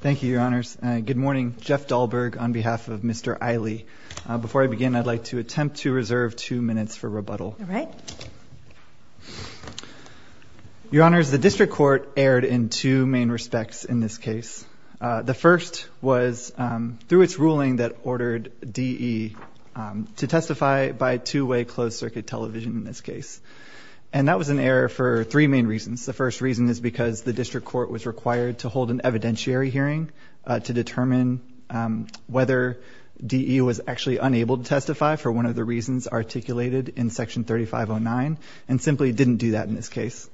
Thank you, Your Honors. Good morning. Jeff Dahlberg on behalf of Mr. Eyle. Before I begin, I'd like to attempt to reserve two minutes for rebuttal. All right. Your Honors, the District Court erred in two main respects in this case. The first was through its ruling that ordered DE to testify by two-way closed-circuit television in this case. And that was an error for three main reasons. The first reason is because the District Court was required to hold an evidentiary hearing to determine whether DE was actually unable to testify for one of the reasons articulated in Section 3509 and simply didn't do that in this case.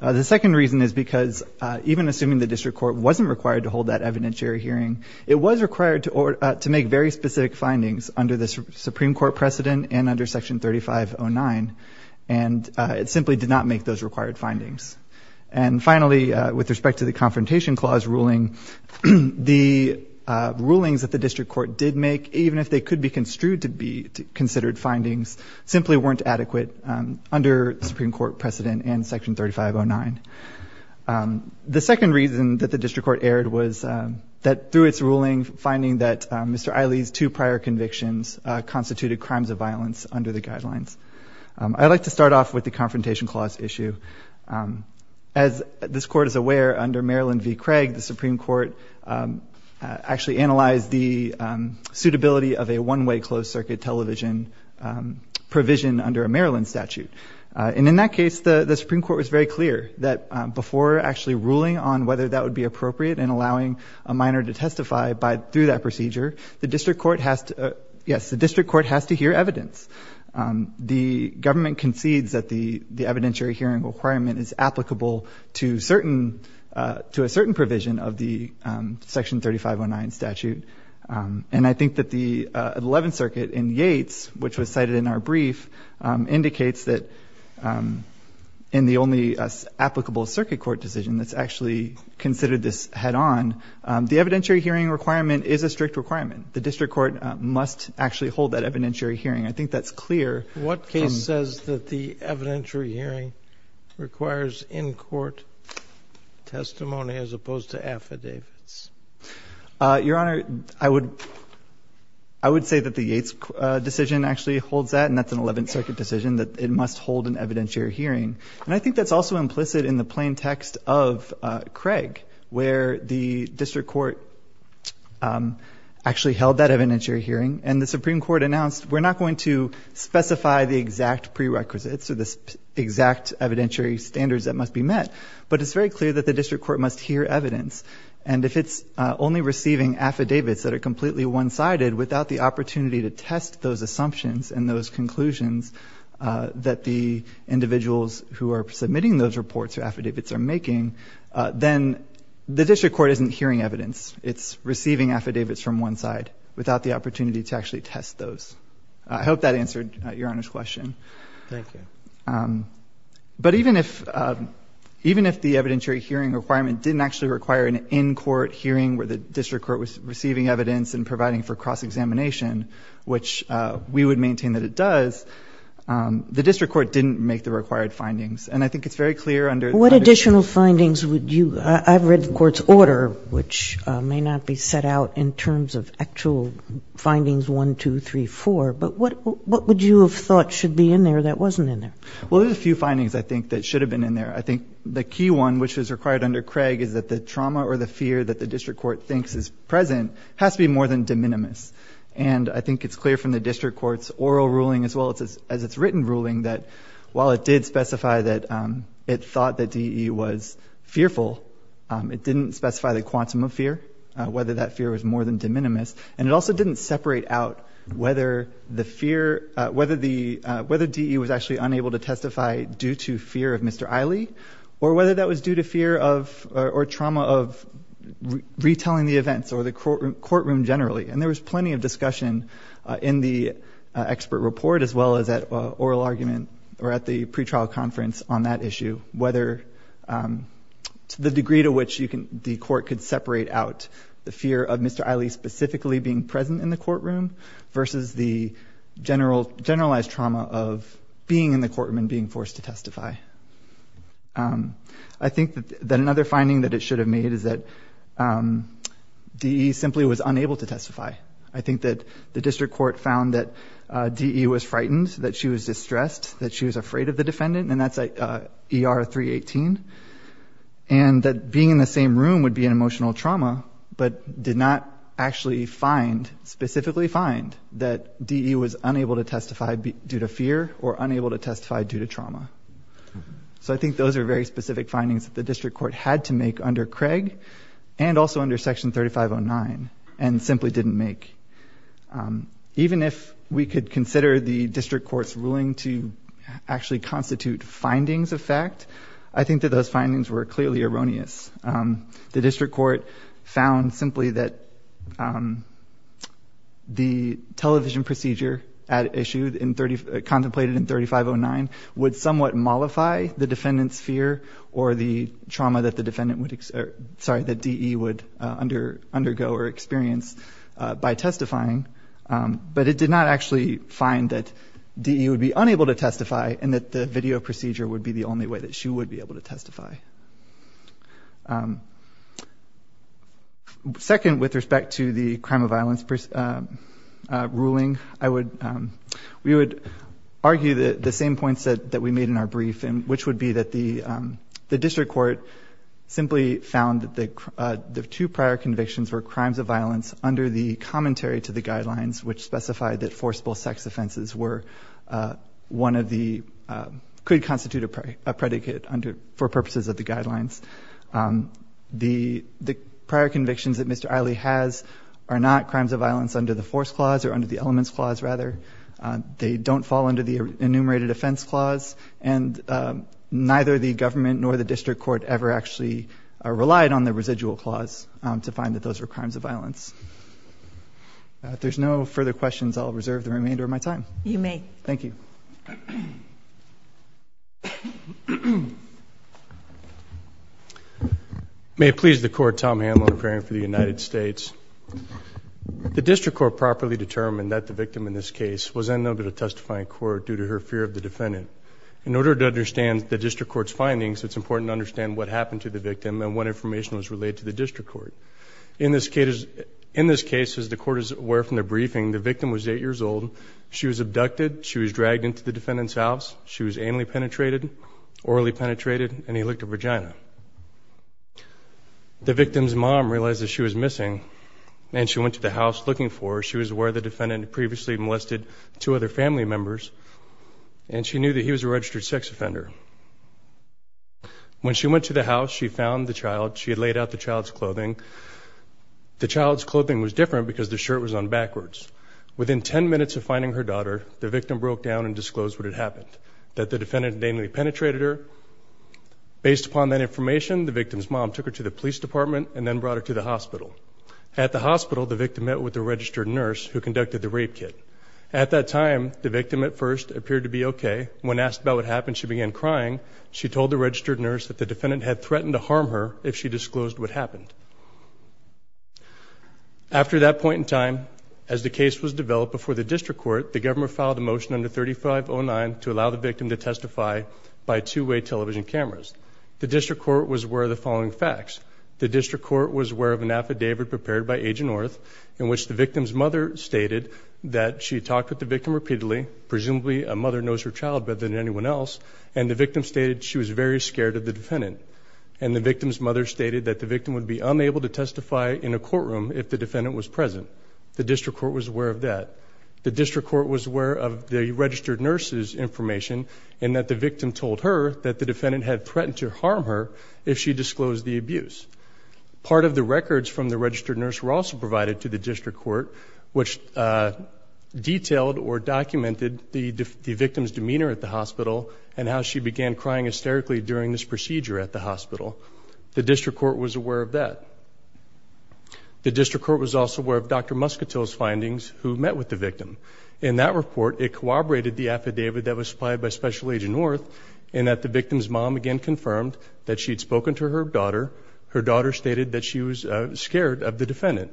The second reason is because even assuming the District Court wasn't required to hold that evidentiary hearing, it was required to make very specific findings under the Supreme Court precedent and under Section 3509, and it simply did not make those required findings. And finally, with respect to the Confrontation Clause ruling, the rulings that the District Court did make, even if they could be construed to be considered findings, simply weren't adequate under the Supreme Court precedent and Section 3509. The second reason that the District Court erred was that through its ruling, finding that Mr. Ailey's two prior convictions constituted crimes of violence under the guidelines. I'd like to start off with the Confrontation Clause issue. As this Court is aware, under Maryland v. Craig, the Supreme Court actually analyzed the suitability of a one-way closed-circuit television provision under a Maryland statute. And in that case, the Supreme Court was very clear that before actually ruling on whether that would be appropriate and allowing a minor to testify through that procedure, the District Court has to hear evidence. The government concedes that the evidentiary hearing requirement is applicable to a certain provision of the Section 3509 statute. And I think that the Eleventh Circuit in Yates, which was cited in our brief, indicates that in the only applicable circuit court decision that's actually considered this head-on, the evidentiary hearing requirement is a strict requirement. The District Court must actually hold that evidentiary hearing. I think that's clear. Sotomayor, what case says that the evidentiary hearing requires in-court testimony as opposed to affidavits? Your Honor, I would say that the Yates decision actually holds that, and that's an Eleventh Circuit decision that it must hold an evidentiary hearing. And I think that's also implicit in the plain text of Craig, where the District Court actually held that evidentiary hearing, and the Supreme Court announced we're not going to specify the exact prerequisites or the exact evidentiary standards that must be met, but it's very clear that the District Court must hear evidence. And if it's only receiving affidavits that are completely one-sided without the opportunity to test those assumptions and those conclusions that the individuals who are submitting those reports or affidavits are making, then the District Court isn't hearing evidence. It's receiving affidavits from one side without the opportunity to actually test those. I hope that answered Your Honor's question. Thank you. But even if the evidentiary hearing requirement didn't actually require an in-court hearing where the District Court was receiving evidence and providing for cross-examination, which we would maintain that it does, the District Court didn't make the required findings. And I think it's very clear under the statute. What additional findings would you – I've read the Court's order, which may not be set out in terms of actual findings 1, 2, 3, 4, but what would you have thought should be in there that wasn't in there? Well, there's a few findings, I think, that should have been in there. I think the key one, which was required under Craig, is that the trauma or the fear that the District Court thinks is present has to be more than de minimis. And I think it's clear from the District Court's oral ruling as well as its written ruling that while it did specify that it thought that DE was fearful, it didn't specify the quantum of fear, whether that fear was more than de minimis. And it also didn't separate out whether the fear – whether DE was actually unable to testify due to fear of Mr. Iley or whether that was due to fear of or trauma of retelling the events or the courtroom generally. And there was plenty of discussion in the expert report as well as at oral argument or at the pretrial conference on that issue whether the degree to which the court could separate out the fear of Mr. Iley specifically being present in the courtroom versus the generalized trauma of being in the courtroom and being forced to testify. I think that another finding that it should have made is that DE simply was unable to testify. I think that the District Court found that DE was frightened, that she was distressed, that she was afraid of the defendant, and that's ER 318, and that being in the same room would be an emotional trauma but did not actually find, specifically find, that DE was unable to testify due to fear or unable to testify due to trauma. So I think those are very specific findings that the District Court had to make under Craig and also under Section 3509 and simply didn't make. Even if we could consider the District Court's ruling to actually constitute findings of fact, I think that those findings were clearly erroneous. The District Court found simply that the television procedure contemplated in 3509 would somewhat mollify the defendant's fear or the trauma that DE would undergo or experience by testifying, but it did not actually find that DE would be unable to testify and that the video procedure would be the only way that she would be able to testify. Second, with respect to the crime of violence ruling, we would argue the same points that we made in our brief, which would be that the District Court simply found that the two prior convictions were crimes of violence under the commentary to the guidelines which specified that forcible sex offenses were one of the – could constitute a predicate for purposes of the guidelines. The prior convictions that Mr. Eilley has are not crimes of violence under the force clause or under the elements clause, rather. They don't fall under the enumerated offense clause, and neither the government nor the District Court ever actually relied on the residual clause to find that those were crimes of violence. If there's no further questions, I'll reserve the remainder of my time. You may. Thank you. May it please the Court, Tom Hamill in preparing for the United States. The District Court properly determined that the victim in this case was unable to testify in court due to her fear of the defendant. In order to understand the District Court's findings, it's important to understand what happened to the victim and what information was relayed to the District Court. In this case, as the Court is aware from the briefing, the victim was 8 years old. She was abducted. She was dragged into the defendant's house. She was anally penetrated, orally penetrated, and he licked her vagina. The victim's mom realized that she was missing, and she went to the house looking for her. She was aware the defendant had previously molested two other family members, and she knew that he was a registered sex offender. When she went to the house, she found the child. The child's clothing was different because the shirt was on backwards. Within 10 minutes of finding her daughter, the victim broke down and disclosed what had happened, that the defendant had anally penetrated her. Based upon that information, the victim's mom took her to the police department and then brought her to the hospital. At the hospital, the victim met with the registered nurse who conducted the rape kit. At that time, the victim at first appeared to be okay. When asked about what happened, she began crying. She told the registered nurse that the defendant had threatened to harm her if she disclosed what happened. After that point in time, as the case was developed before the district court, the government filed a motion under 3509 to allow the victim to testify by two-way television cameras. The district court was aware of the following facts. The district court was aware of an affidavit prepared by Agent North in which the victim's mother stated that she talked with the victim repeatedly, presumably a mother knows her child better than anyone else, and the victim stated she was very scared of the defendant. And the victim's mother stated that the victim would be unable to testify in a courtroom if the defendant was present. The district court was aware of that. The district court was aware of the registered nurse's information and that the victim told her that the defendant had threatened to harm her if she disclosed the abuse. Part of the records from the registered nurse were also provided to the district court, which detailed or documented the victim's demeanor at the hospital and how she began crying hysterically during this procedure at the hospital. The district court was aware of that. The district court was also aware of Dr. Muscatel's findings who met with the victim. In that report, it corroborated the affidavit that was supplied by Special Agent North in that the victim's mom again confirmed that she had spoken to her daughter. Her daughter stated that she was scared of the defendant.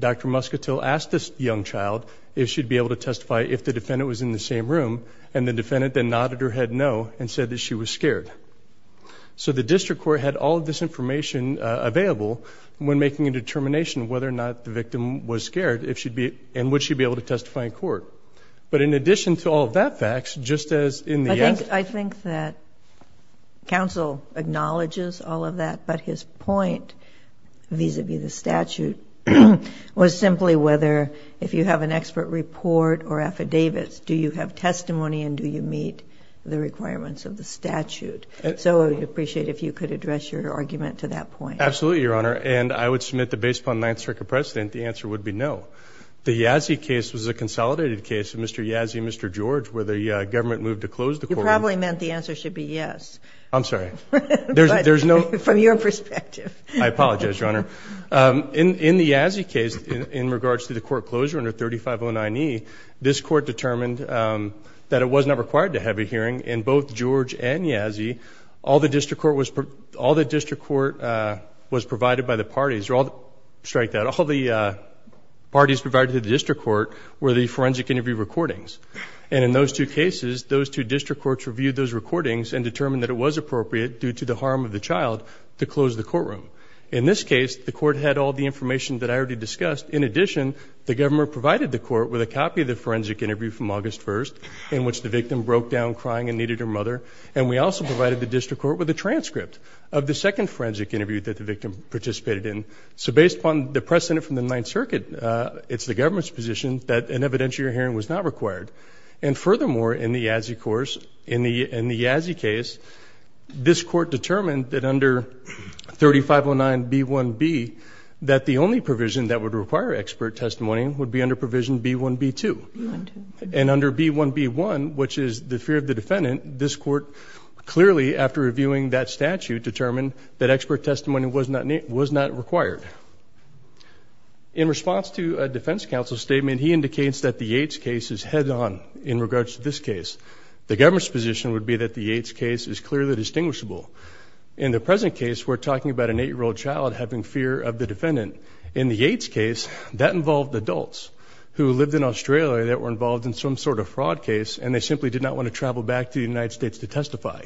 Dr. Muscatel asked this young child if she'd be able to testify if the defendant was in the same room, and the defendant then nodded her head no and said that she was scared. So the district court had all of this information available when making a determination whether or not the victim was scared and would she be able to testify in court. But in addition to all of that facts, just as in the actual case. It was simply whether if you have an expert report or affidavits, do you have testimony and do you meet the requirements of the statute. So I would appreciate if you could address your argument to that point. Absolutely, Your Honor. And I would submit that based upon the Ninth Circuit precedent, the answer would be no. The Yazzie case was a consolidated case of Mr. Yazzie and Mr. George where the government moved to close the courtroom. You probably meant the answer should be yes. I'm sorry. From your perspective. I apologize, Your Honor. In the Yazzie case, in regards to the court closure under 3509E, this court determined that it was not required to have a hearing. In both George and Yazzie, all the district court was provided by the parties. Strike that. All the parties provided to the district court were the forensic interview recordings. And in those two cases, those two district courts reviewed those recordings and determined that it was appropriate due to the harm of the child to close the courtroom. In this case, the court had all the information that I already discussed. In addition, the government provided the court with a copy of the forensic interview from August 1st in which the victim broke down crying and needed her mother. And we also provided the district court with a transcript of the second forensic interview that the victim participated in. So based upon the precedent from the Ninth Circuit, it's the government's position that an evidentiary hearing was not required. And furthermore, in the Yazzie case, this court determined that under 3509B1B, that the only provision that would require expert testimony would be under provision B1B2. And under B1B1, which is the fear of the defendant, this court clearly, after reviewing that statute, determined that expert testimony was not required. In response to a defense counsel statement, he indicates that the Yates case is head-on in regards to this case. The government's position would be that the Yates case is clearly distinguishable. In the present case, we're talking about an eight-year-old child having fear of the defendant. In the Yates case, that involved adults who lived in Australia that were involved in some sort of fraud case and they simply did not want to travel back to the United States to testify.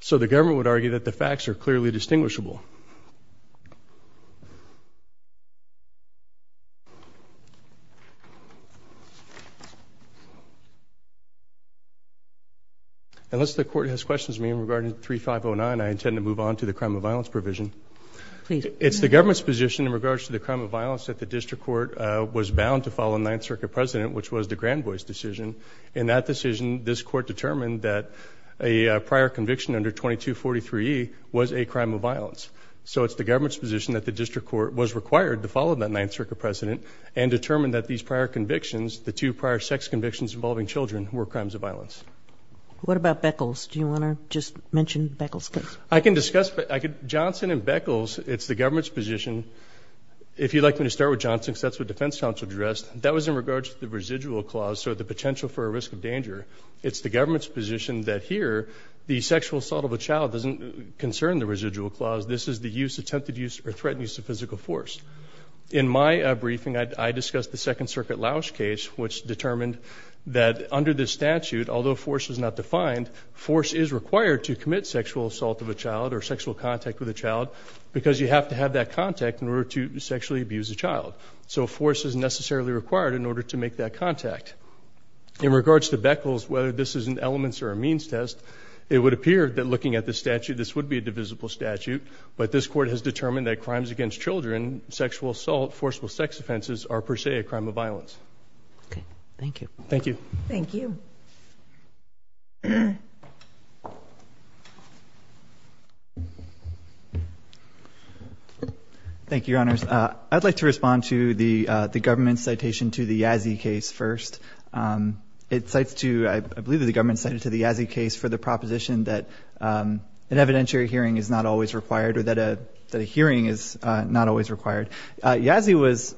So the government would argue that the facts are clearly distinguishable. Thank you. Unless the court has questions for me regarding 3509, I intend to move on to the crime of violence provision. Please. It's the government's position in regards to the crime of violence that the district court was bound to file a Ninth Circuit precedent, which was the Granboy's decision. In that decision, this court determined that a prior conviction under 2243E was a crime of violence. So it's the government's position that the district court was required to follow that Ninth Circuit precedent and determine that these prior convictions, the two prior sex convictions involving children, were crimes of violence. What about Beckles? Do you want to just mention Beckles case? I can discuss. Johnson and Beckles, it's the government's position. If you'd like me to start with Johnson, because that's what defense counsel addressed, that was in regards to the residual clause, so the potential for a risk of danger. It's the government's position that here the sexual assault of a child doesn't concern the residual clause. This is the use, attempted use, or threatened use of physical force. In my briefing, I discussed the Second Circuit Lausch case, which determined that under this statute, although force is not defined, force is required to commit sexual assault of a child or sexual contact with a child because you have to have that contact in order to sexually abuse a child. So force is necessarily required in order to make that contact. In regards to Beckles, whether this is an elements or a means test, it would appear that looking at the statute, this would be a divisible statute, but this Court has determined that crimes against children, sexual assault, forcible sex offenses are per se a crime of violence. Okay. Thank you. Thank you. Thank you. Thank you, Your Honors. I'd like to respond to the government's citation to the Yazzie case first. It cites to, I believe the government cited to the Yazzie case for the proposition that an evidentiary hearing is not always required or that a hearing is not always required. Yazzie was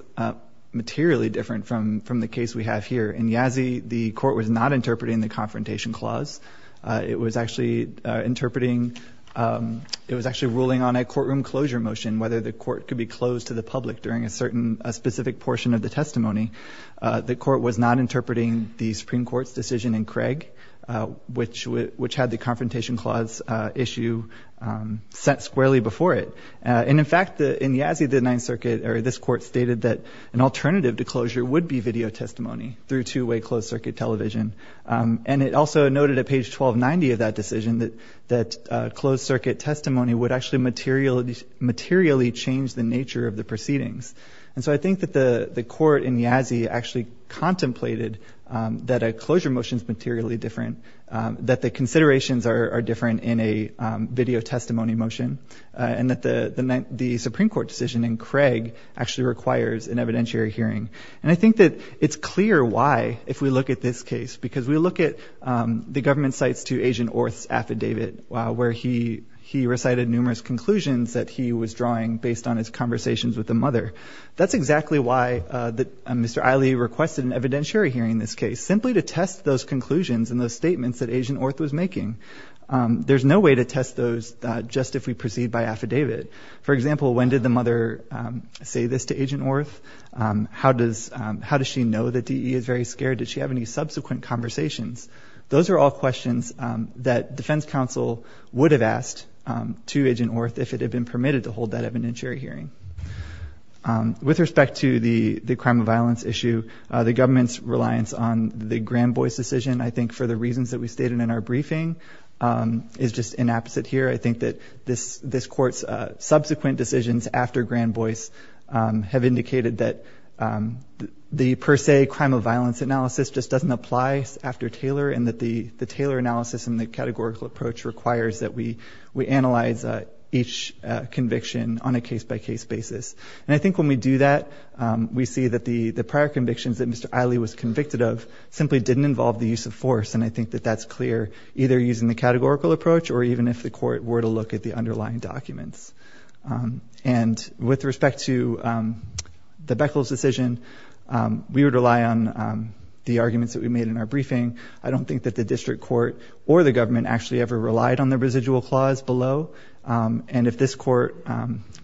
materially different from the case we have here. In Yazzie, the Court was not interpreting the Confrontation Clause. It was actually interpreting, it was actually ruling on a courtroom closure motion, whether the court could be closed to the public during a certain, a specific portion of the testimony. The Court was not interpreting the Supreme Court's decision in Craig, which had the Confrontation Clause issue set squarely before it. And, in fact, in Yazzie, the Ninth Circuit, or this Court stated that an alternative to closure would be video testimony through two-way closed-circuit television. And it also noted at page 1290 of that decision that closed-circuit testimony would actually materially change the nature of the proceedings. And so I think that the Court in Yazzie actually contemplated that a closure motion is materially different, that the considerations are different in a video testimony motion, and that the Supreme Court decision in Craig actually requires an evidentiary hearing. And I think that it's clear why, if we look at this case, because we look at the government cites to Agent Orth's affidavit where he recited numerous conclusions that he was drawing based on his conversations with the mother. That's exactly why Mr. Eille requested an evidentiary hearing in this case, simply to test those conclusions and those statements that Agent Orth was making. There's no way to test those just if we proceed by affidavit. For example, when did the mother say this to Agent Orth? How does she know that DE is very scared? Did she have any subsequent conversations? Those are all questions that defense counsel would have asked to Agent Orth if it had been permitted to hold that evidentiary hearing. With respect to the crime of violence issue, the government's reliance on the Granboyce decision, I think for the reasons that we stated in our briefing, is just inapposite here. I think that this Court's subsequent decisions after Granboyce have indicated that the per se crime of violence analysis just doesn't apply after Taylor and that the Taylor analysis and the categorical approach requires that we analyze each conviction on a case-by-case basis. And I think when we do that, we see that the prior convictions that Mr. Eille was convicted of simply didn't involve the use of force, and I think that that's clear either using the categorical approach or even if the Court were to look at the underlying documents. And with respect to the Beckles decision, we would rely on the arguments that we made in our briefing. I don't think that the District Court or the government actually ever relied on the residual clause below, and if this Court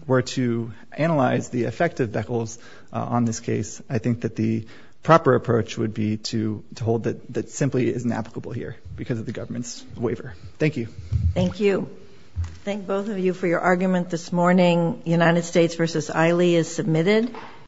were to analyze the effect of Beckles on this case, I think that the proper approach would be to hold that simply isn't applicable here because of the government's waiver. Thank you. Thank you. Thank both of you for your argument this morning. United States v. Eille is submitted.